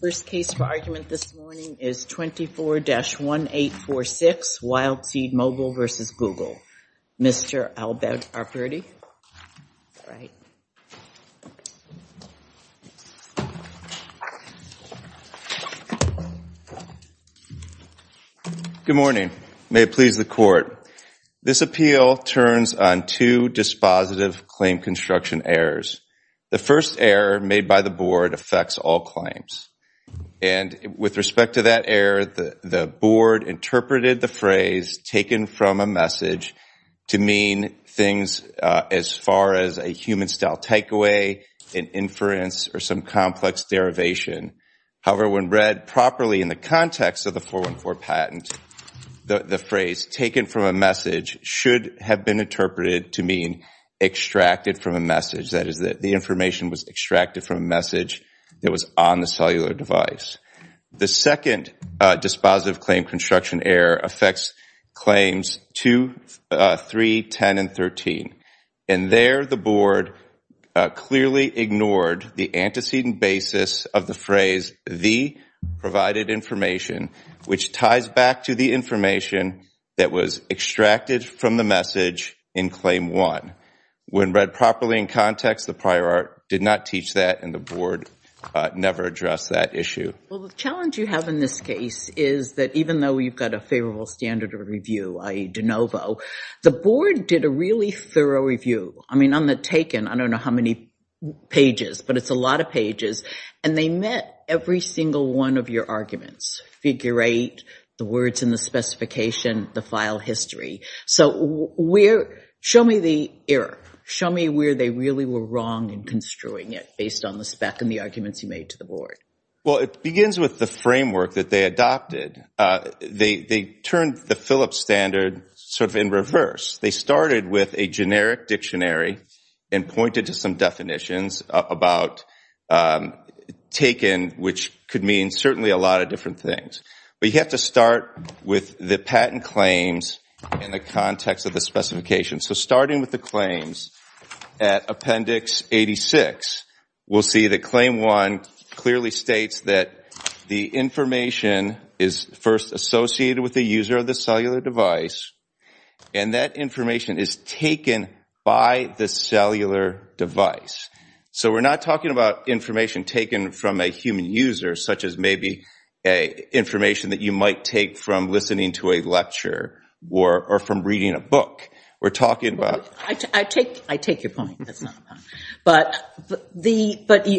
First case for argument this morning is 24-1846, Wildseed Mobile versus Google. Mr. Albert Arperty. Good morning. May it please the court. This appeal turns on two dispositive claim construction errors. The first error made by the board affects all claims. And with respect to that error, the board interpreted the phrase taken from a message to mean things as far as a human-style takeaway, an inference, or some complex derivation. However, when read properly in the context of the 414 patent, the phrase taken from a message should have been interpreted to mean extracted from a message. That is, that the information was extracted from a message that was on the cellular device. The second dispositive claim construction error affects claims 2, 3, 10, and 13. And there, the board clearly ignored the antecedent basis of the phrase the provided information, which ties back to the information that was extracted from the message in claim one. When read properly in context, the prior art did not teach that, and the board never addressed that issue. Well, the challenge you have in this case is that even though you've got a favorable standard of review, i.e. de novo, the board did a really thorough review. I mean, on the taken, I don't know how many pages, but it's a lot of pages. And they met every single one of your arguments, figure eight, the words in the specification, the file history. So show me the error. Show me where they really were wrong in construing it based on the spec and the arguments you made to the board. Well, it begins with the framework that they adopted. They turned the Phillips standard sort of in reverse. They started with a generic dictionary and pointed to some definitions about taken, which could mean certainly a lot of different things. But you have to start with the patent claims in the context of the specification. So starting with the claims at appendix 86, we'll see that claim one clearly states that the information is first associated with the user of the cellular device, and that information is taken by the cellular device. So we're not talking about information taken from a human user, such as maybe information that you might take from listening to a lecture or from reading a book. We're talking about- I take your point. But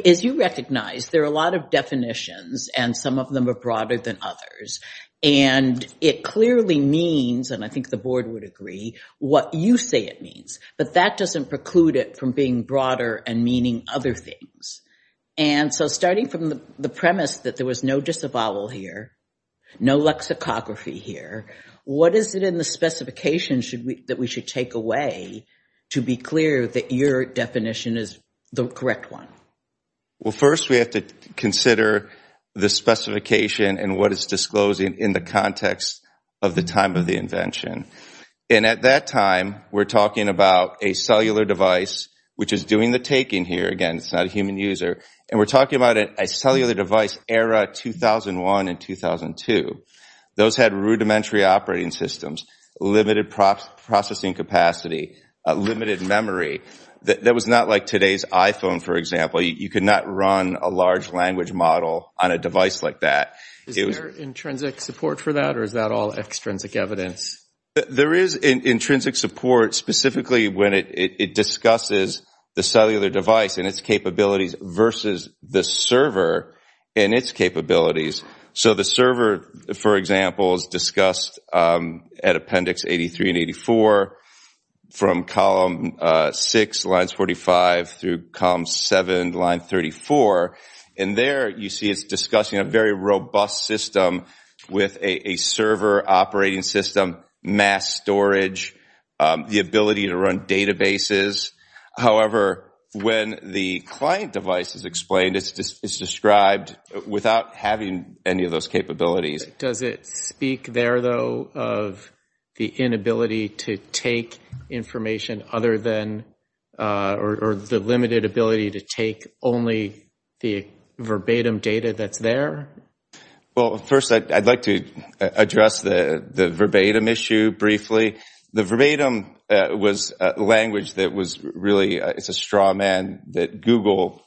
as you recognize, there are a lot of definitions, and some of them are broader than others. And it clearly means, and I think the board would agree, what you say it means. But that doesn't preclude it from being broader and meaning other things. And so starting from the premise that there was no disavowal here, no lexicography here, what is it in the specification that we should take away to be clear that your definition is the correct one? Well, first we have to consider the specification and what is disclosed in the context of the time of the invention. And at that time, we're talking about a cellular device, which is doing the taking here. Again, it's not a human user. And we're talking about a cellular device era 2001 and 2002. Those had rudimentary operating systems, limited processing capacity, limited memory. That was not like today's iPhone, for example. You could not run a large language model on a device like that. Is there intrinsic support for that, or is that all extrinsic evidence? There is intrinsic support, specifically when it discusses the cellular device. And its capabilities versus the server and its capabilities. So the server, for example, is discussed at Appendix 83 and 84 from Column 6, Lines 45 through Column 7, Line 34. And there you see it's discussing a very robust system with a server operating system, mass storage, the ability to run databases. However, when the client device is explained, it's described without having any of those capabilities. Does it speak there, though, of the inability to take information other than, or the limited ability to take only the verbatim data that's there? Well, first, I'd like to address the verbatim issue briefly. The verbatim was a language that was really, it's a straw man that Google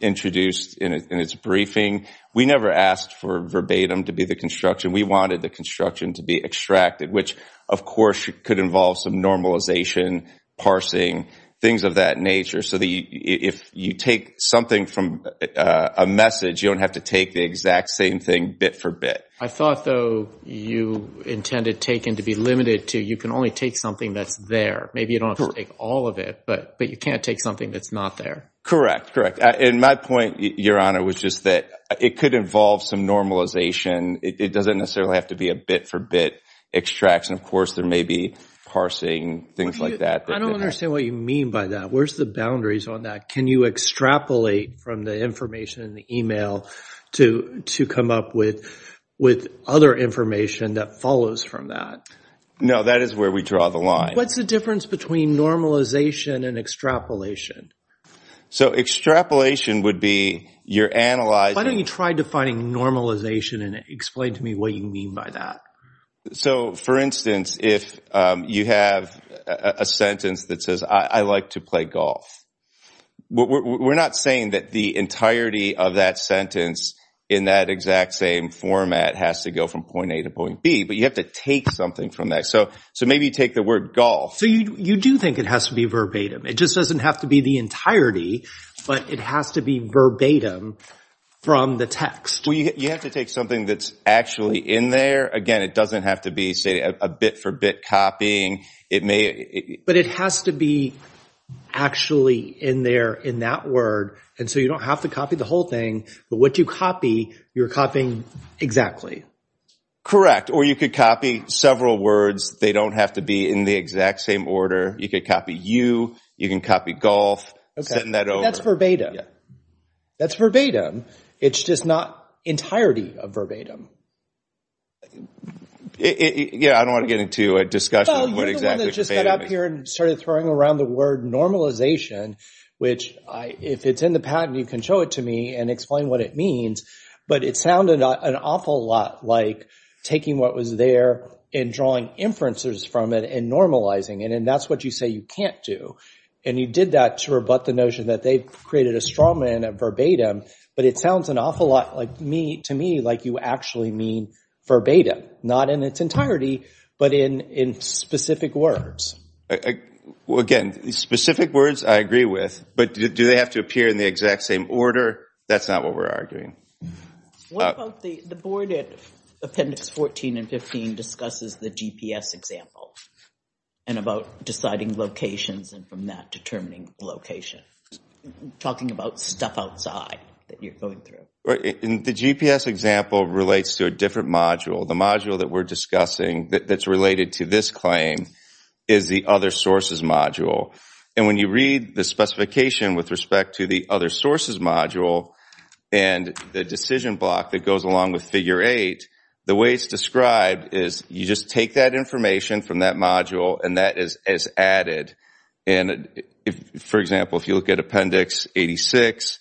introduced in its briefing. We never asked for verbatim to be the construction. We wanted the construction to be extracted, which, of course, could involve some normalization, parsing, things of that nature. So if you take something from a message, you don't have to take the exact same thing bit for bit. I thought, though, you intended taken to be limited to you can only take something that's there. Maybe you don't have to take all of it, but you can't take something that's not there. Correct, correct, and my point, Your Honor, was just that it could involve some normalization. It doesn't necessarily have to be a bit for bit extraction. Of course, there may be parsing, things like that. I don't understand what you mean by that. Where's the boundaries on that? Can you extrapolate from the information in the email to come up with other information that follows from that? No, that is where we draw the line. What's the difference between normalization and extrapolation? So extrapolation would be you're analyzing. Why don't you try defining normalization and explain to me what you mean by that? So, for instance, if you have a sentence that says, I like to play golf, we're not saying that the entirety of that sentence in that exact same format has to go from point A to point B, but you have to take something from that. So maybe you take the word golf. So you do think it has to be verbatim. It just doesn't have to be the entirety, but it has to be verbatim from the text. Well, you have to take something that's actually in there. Again, it doesn't have to be, say, a bit for bit copying. But it has to be actually in there in that word, and so you don't have to copy the whole thing, but what you copy, you're copying exactly. Correct, or you could copy several words. They don't have to be in the exact same order. You could copy you. You can copy golf. Setting that over. That's verbatim. That's verbatim. It's just not entirety of verbatim. Yeah, I don't want to get into a discussion of what exactly verbatim is. Well, you're the one that just got up here and started throwing around the word normalization, which if it's in the patent, you can show it to me and explain what it means, but it sounded an awful lot like taking what was there and drawing inferences from it and normalizing it, and that's what you say you can't do, and you did that to rebut the notion that they've created a straw man at verbatim, but it sounds an awful lot to me like you actually mean verbatim, not in its entirety, but in specific words. Well, again, specific words I agree with, but do they have to appear in the exact same order? That's not what we're arguing. What about the board at appendix 14 and 15 discusses the GPS example and about deciding locations and from that determining location? Talking about stuff outside that you're going through. The GPS example relates to a different module. The module that we're discussing that's related to this claim is the other sources module, and when you read the specification with respect to the other sources module and the decision block that goes along with figure eight, the way it's described is you just take that information from that module and that is added, and for example, if you look at appendix 86,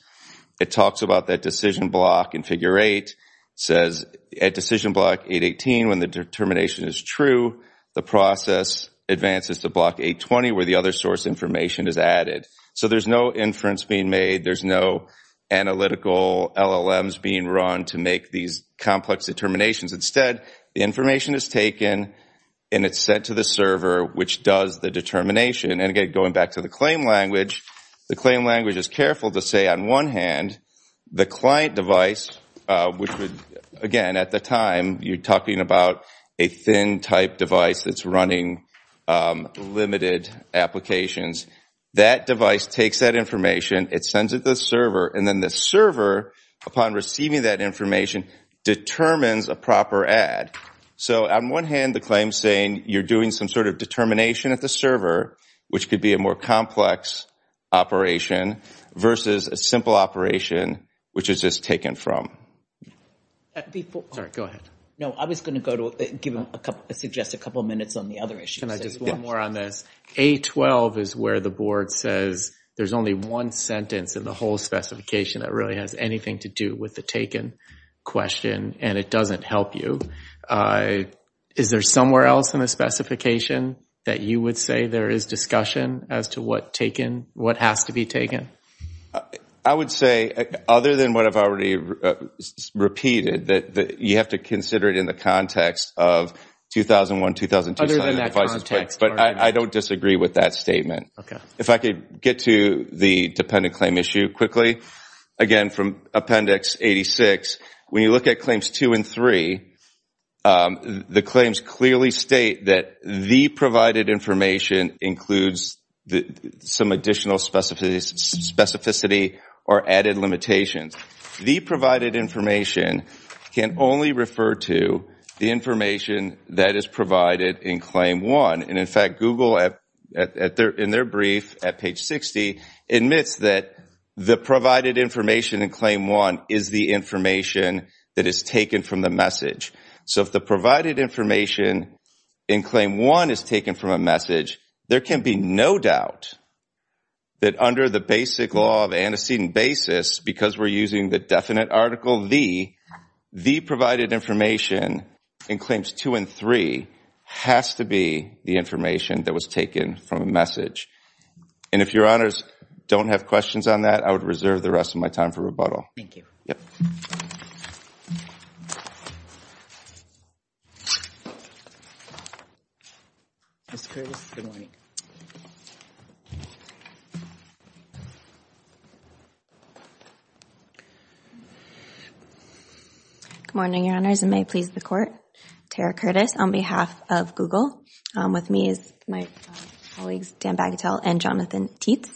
it talks about that decision block in figure eight. It says at decision block 818 when the determination is true, the process advances to block 820 where the other source information is added. So there's no inference being made. There's no analytical LLMs being run to make these complex determinations. Instead, the information is taken and it's sent to the server, which does the determination, and again, going back to the claim language, the claim language is careful to say on one hand the client device, which would, again, at the time you're talking about a thin type device that's running limited applications, that device takes that information, it sends it to the server, and then the server, upon receiving that information, determines a proper add. So on one hand, the claim's saying you're doing some sort of determination at the server, which could be a more complex operation versus a simple operation, which is just taken from. Sorry, go ahead. No, I was gonna give a couple, I suggest a couple of minutes on the other issues. Can I just one more on this? A12 is where the board says there's only one sentence in the whole specification that really has anything to do with the taken question and it doesn't help you. Is there somewhere else in the specification that you would say there is discussion as to what has to be taken? I would say, other than what I've already repeated, you have to consider it in the context of 2001-2002 sign-in devices, but I don't disagree with that statement. If I could get to the dependent claim issue quickly. Again, from Appendix 86, when you look at claims two and three, the claims clearly state that the provided information includes some additional specificity or added limitations. The provided information can only refer to the information that is provided in claim one. And in fact, Google, in their brief at page 60, admits that the provided information in claim one is the information that is taken from the message. So if the provided information in claim one is taken from a message, there can be no doubt that under the basic law of antecedent basis, because we're using the definite article the, the provided information in claims two and three has to be the information that was taken from a message. And if your honors don't have questions on that, I would reserve the rest of my time for rebuttal. Thank you. Yep. Ms. Curtis, good morning. Good morning, your honors, and may it please the court. Tara Curtis, on behalf of Google, with me is my colleagues, Dan Bagatelle and Jonathan Teets.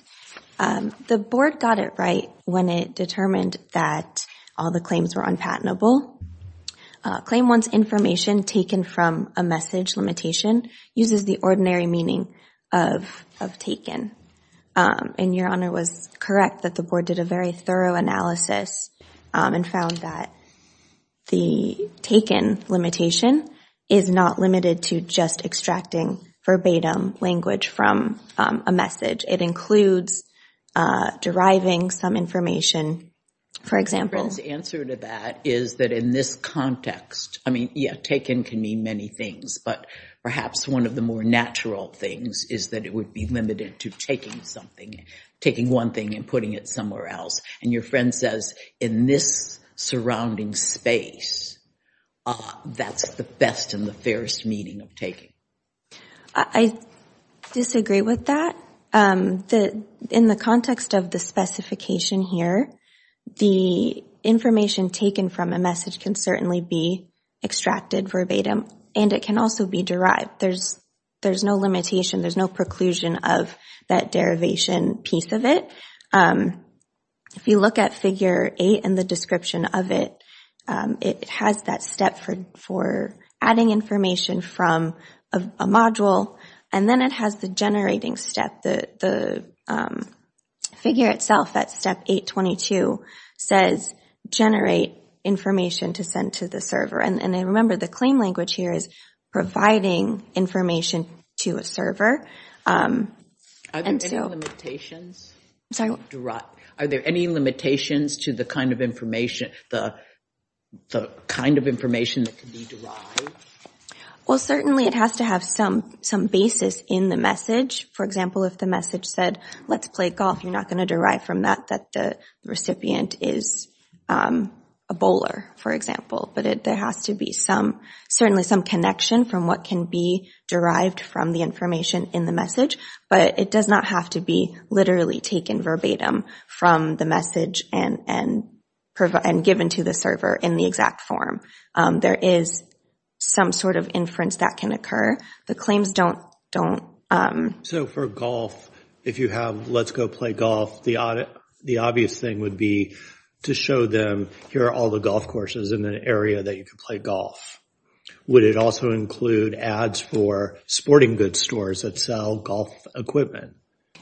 The board got it right when it determined that all the claims were unpatentable. Claim one's information taken from a message limitation uses the ordinary meaning of taken. And your honor was correct that the board did a very thorough and thorough analysis and found that the taken limitation is not limited to just extracting verbatim language from a message. It includes deriving some information, for example. The answer to that is that in this context, I mean, yeah, taken can mean many things, but perhaps one of the more natural things is that it would be limited to taking something, taking one thing and putting it somewhere else. And your friend says, in this surrounding space, that's the best and the fairest meaning of taking. I disagree with that. In the context of the specification here, the information taken from a message can certainly be extracted verbatim, and it can also be derived. There's no limitation, there's no preclusion of that derivation piece of it. If you look at figure eight and the description of it, it has that step for adding information from a module, and then it has the generating step, the figure itself at step 822 says generate information to send to the server. And remember, the claim language here is providing information to a server. And so. Are there any limitations to the kind of information that can be derived? Well, certainly it has to have some basis in the message. For example, if the message said, let's play golf, you're not gonna derive from that that the recipient is a bowler, for example. But there has to be certainly some connection from what can be derived from the information in the message, but it does not have to be literally taken verbatim from the message and given to the server in the exact form. There is some sort of inference that can occur. The claims don't. So for golf, if you have let's go play golf, the obvious thing would be to show them here are all the golf courses in an area that you can play golf. Would it also include ads for sporting goods stores that sell golf equipment?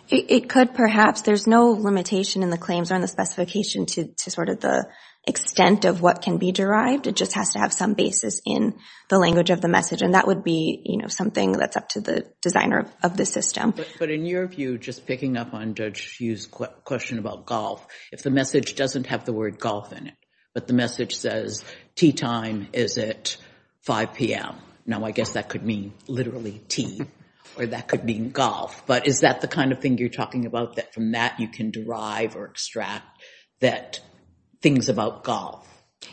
It could, perhaps. There's no limitation in the claims or in the specification to sort of the extent of what can be derived. It just has to have some basis in the language of the message. And that would be something that's up to the designer of the system. But in your view, just picking up on Judge Hugh's question about golf, if the message doesn't have the word golf in it, but the message says tee time is at 5 p.m., now I guess that could mean literally tee, or that could mean golf. But is that the kind of thing you're talking about, that from that you can derive or extract that things about golf?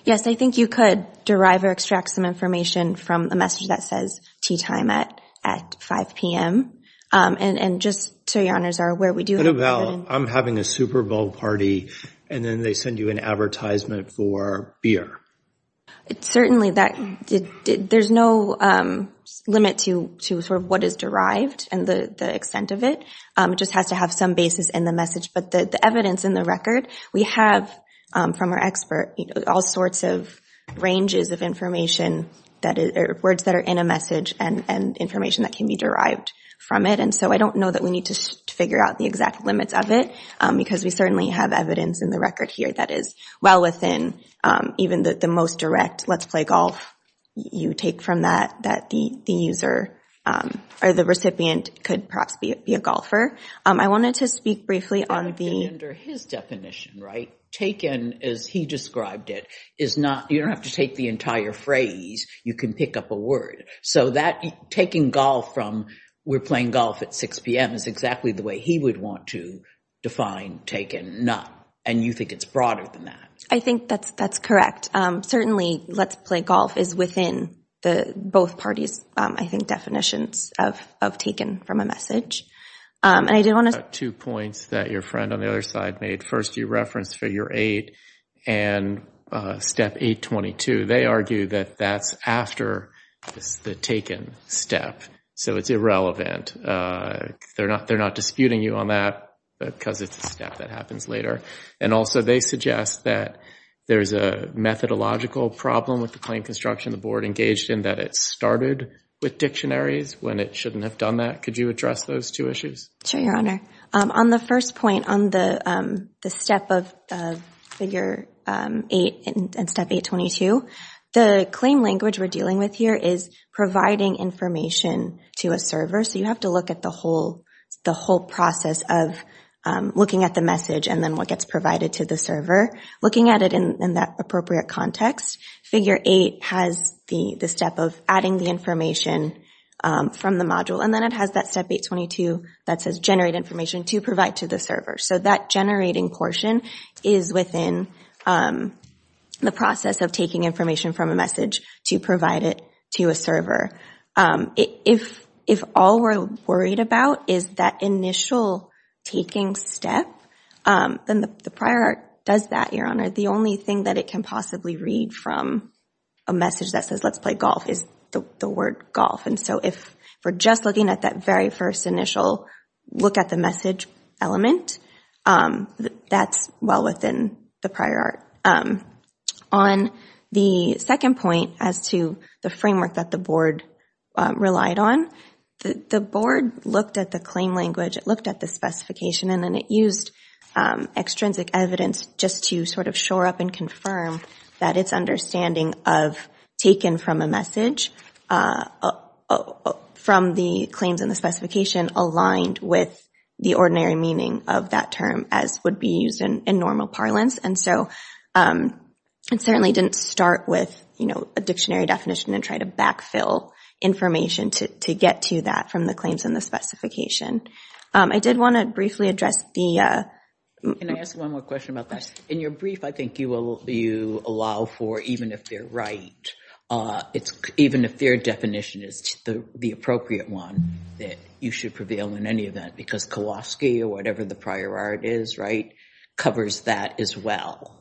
Yes, I think you could derive or extract some information from the message that says tee time at 5 p.m. And just so your honors are aware, we do have that in- What about I'm having a Super Bowl party, and then they send you an advertisement for beer? Certainly, there's no limit to what is derived and the extent of it. It just has to have some basis in the message. But the evidence in the record, we have from our expert all sorts of ranges of information, words that are in a message and information that can be derived from it. And so I don't know that we need to figure out the exact limits of it, because we certainly have evidence in the record here that is well within even the most direct, let's play golf, you take from that, that the user or the recipient could perhaps be a golfer. I wanted to speak briefly on the- But under his definition, right? Taken, as he described it, is not, you don't have to take the entire phrase, you can pick up a word. So that taking golf from, we're playing golf at 6 p.m., is exactly the way he would want to define taken, not. And you think it's broader than that? I think that's correct. Certainly, let's play golf is within both parties, I think, definitions of taken from a message. And I did want to- Two points that your friend on the other side made. First, you referenced figure eight and step 822. They argue that that's after the taken step. So it's irrelevant. They're not disputing you on that, because it's a step that happens later. And also they suggest that there's a methodological problem with the claim construction the board engaged in, that it started with dictionaries when it shouldn't have done that. Could you address those two issues? Sure, your honor. On the first point, on the step of figure eight and step 822, the claim language we're dealing with here is providing information to a server. So you have to look at the whole process of looking at the message, and then what gets provided to the server. Looking at it in that appropriate context, figure eight has the step of adding the information from the module, and then it has that step 822 that says generate information to provide to the server. So that generating portion is within the process of taking information from a message to provide it to a server. If all we're worried about is that initial taking step, then the prior art does that, your honor. The only thing that it can possibly read from a message that says let's play golf is the word golf. And so if we're just looking at that very first initial look at the message element, that's well within the prior art. On the second point as to the framework that the board relied on, the board looked at the claim language, it looked at the specification, and then it used extrinsic evidence just to sort of shore up and confirm that its understanding of taken from a message from the claims and the specification aligned with the ordinary meaning of that term as would be used in normal parlance. And so it certainly didn't start with a dictionary definition and try to backfill information to get to that from the claims and the specification. I did want to briefly address the... Can I ask one more question about that? In your brief, I think you allow for even if they're right, even if their definition is the appropriate one that you should prevail in any event because Kowalski or whatever the prior art is, right, covers that as well.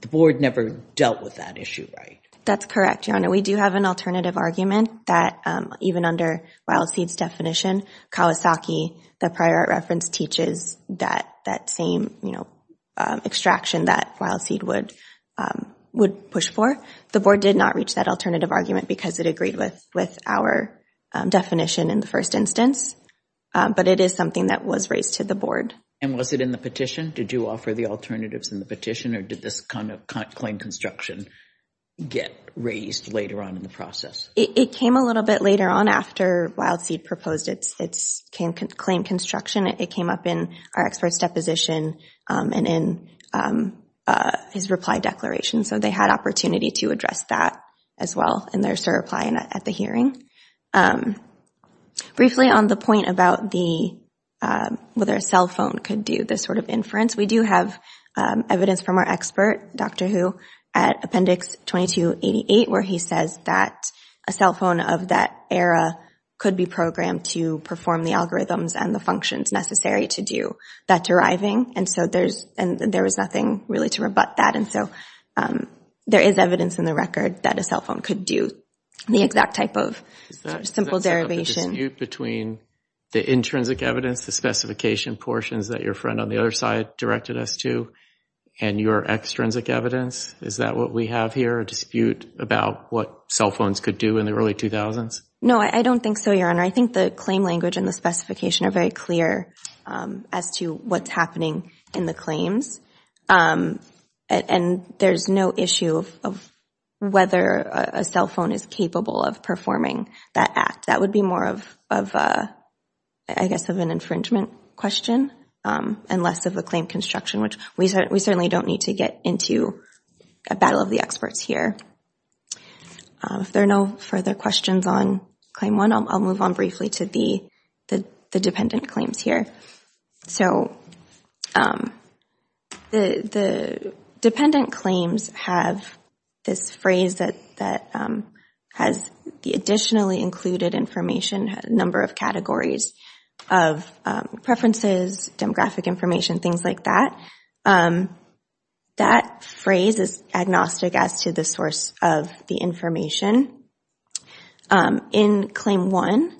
The board never dealt with that issue, right? That's correct, your honor. We do have an alternative argument that even under Wild Seeds definition, Kowalski, the prior art reference, teaches that same extraction that Wild Seed would push for. The board did not reach that alternative argument because it agreed with our definition in the first instance, but it is something that was raised to the board. And was it in the petition? Did you offer the alternatives in the petition or did this kind of claim construction get raised later on in the process? It came a little bit later on after Wild Seed proposed its claim construction. It came up in our expert's deposition and in his reply declaration. So they had opportunity to address that as well in their reply at the hearing. Briefly on the point about whether a cell phone could do this sort of inference, we do have evidence from our expert, Dr. Hu, at appendix 2288 where he says that a cell phone of that era could be programmed to perform the algorithms and the functions necessary to do that deriving. And so there was nothing really to rebut that. And so there is evidence in the record that a cell phone could do the exact type of simple derivation. Is that sort of a dispute between the intrinsic evidence, the specification portions that your friend on the other side directed us to, and your extrinsic evidence? Is that what we have here, a dispute about what cell phones could do in the early 2000s? No, I don't think so, Your Honor. I think the claim language and the specification are very clear as to what's happening in the claims. And there's no issue of whether a cell phone is capable of performing that act. That would be more of, I guess, of an infringement question and less of a claim construction, which we certainly don't need to get into a battle of the experts here. If there are no further questions on claim one, I'll move on briefly to the dependent claims here. So the dependent claims have this phrase that has the additionally included information, number of categories of preferences, demographic information, things like that. That phrase is agnostic as to the source of the information. In claim one,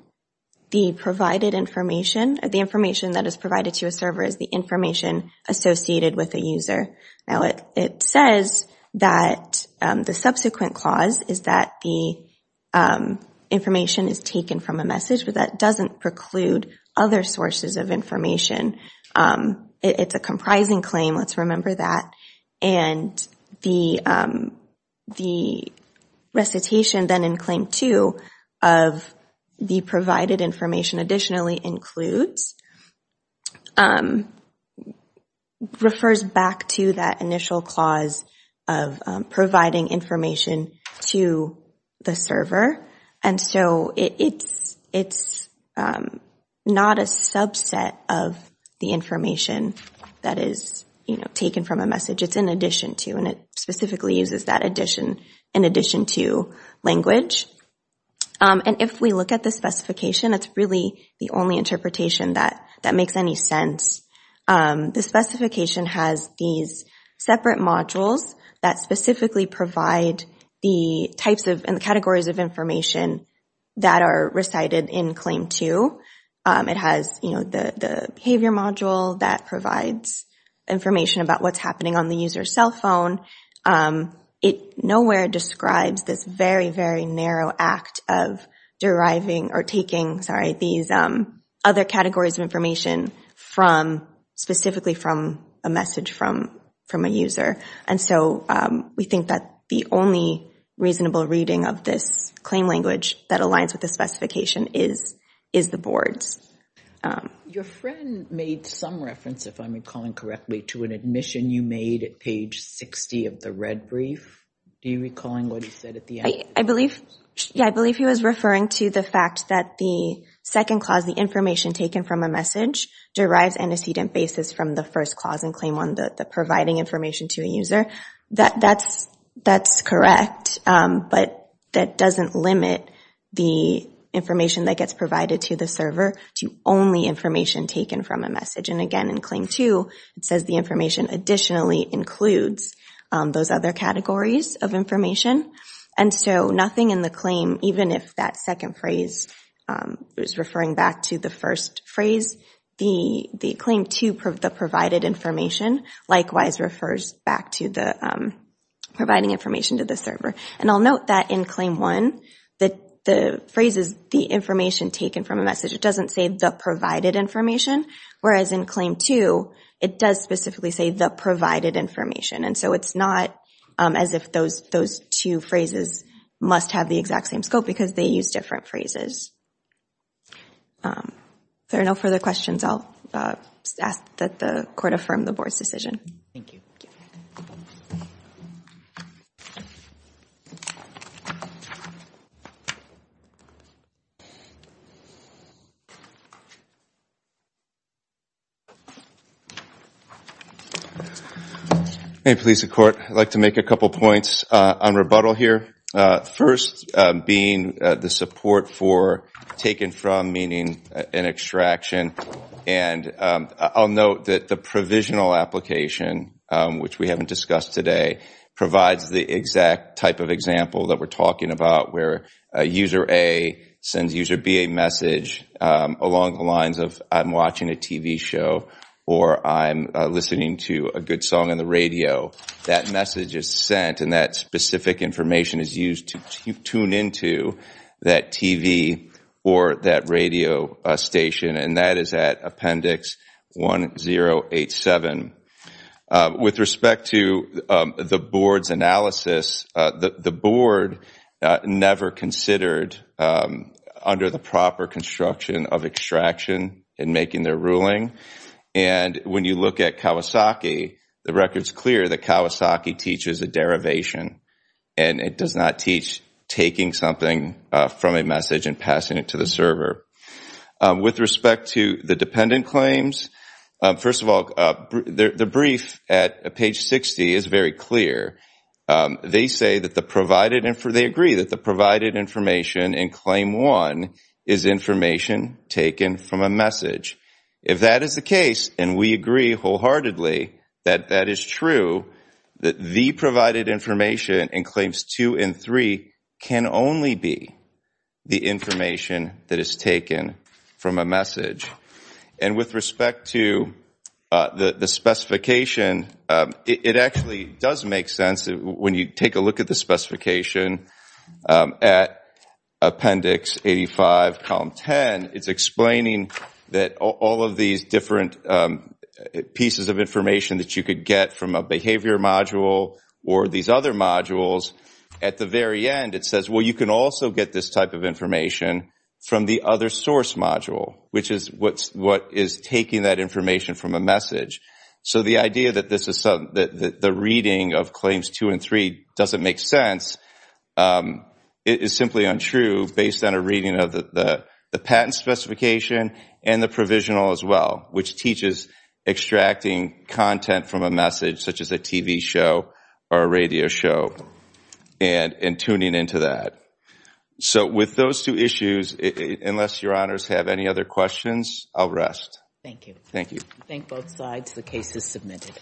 the provided information, or the information that is provided to a server is the information associated with a user. Now, it says that the subsequent clause is that the information is taken from a message, but that doesn't preclude other sources of information. It's a comprising claim, let's remember that. And the recitation then in claim two of the provided information additionally includes refers back to that initial clause of providing information to the server. And so it's not a subset of the information that is taken from a message, it's in addition to, and it specifically uses that addition in addition to language. And if we look at the specification, it's really the only interpretation that makes any sense. The specification has these separate modules that specifically provide the types of, and the categories of information that are recited in claim two. It has the behavior module that provides information about what's happening on the user's cell phone. It nowhere describes this very, very narrow act of deriving or taking, sorry, these other categories of information from specifically from a message from a user. And so we think that the only reasonable reading of this claim language that aligns with the specification is the boards. Your friend made some reference, if I'm recalling correctly, to an admission you made at page 60 of the red brief. Do you recall what he said at the end? I believe, yeah, I believe he was referring to the fact that the second clause, the information taken from a message derives antecedent basis from the first clause in claim one, the providing information to a user. That's correct, but that doesn't limit the information that gets provided to the server to only information taken from a message. And again, in claim two, it says the information additionally includes those other categories of information. And so nothing in the claim, even if that second phrase is referring back to the first phrase, the claim to the provided information likewise refers back to the providing information to the server. And I'll note that in claim one, the phrase is the information taken from a message. It doesn't say the provided information, whereas in claim two, it does specifically say the provided information. And so it's not as if those two phrases must have the exact same scope because they use different phrases. If there are no further questions, I'll ask that the court affirm the board's decision. Thank you. Hey, police and court. I'd like to make a couple points on rebuttal here. First, being the support for taken from, meaning an extraction. And I'll note that the provisional application, which we haven't discussed today, provides the exact type of example that we're talking about where a user A sends user B a message along the lines of I'm watching a TV show or I'm listening to a good song on the radio. That message is sent and that specific information is used to tune into that TV or that radio station. And that is at appendix 1087. With respect to the board's analysis, the board never considered under the proper construction of extraction in making their ruling. And when you look at Kawasaki, the record's clear that Kawasaki teaches a derivation and it does not teach taking something from a message and passing it to the server. With respect to the dependent claims, first of all, the brief at page 60 is very clear. They say that the provided, they agree that the provided information in claim one is information taken from a message. If that is the case, and we agree wholeheartedly that that is true, that the provided information in claims two and three can only be the information that is taken from a message. And with respect to the specification, it actually does make sense when you take a look at the specification at appendix 85, column 10, it's explaining that all of these different pieces of information that you could get from a behavior module or these other modules, at the very end it says, well, you can also get this type of information from the other source module, which is what is taking that information from a message. So the idea that the reading of claims two and three doesn't make sense, it is simply untrue based on a reading of the patent specification and the provisional as well, which teaches extracting content from a message such as a TV show or a radio show and tuning into that. So with those two issues, unless your honors have any other questions, I'll rest. Thank you. Thank you. Thank both sides, the case is submitted.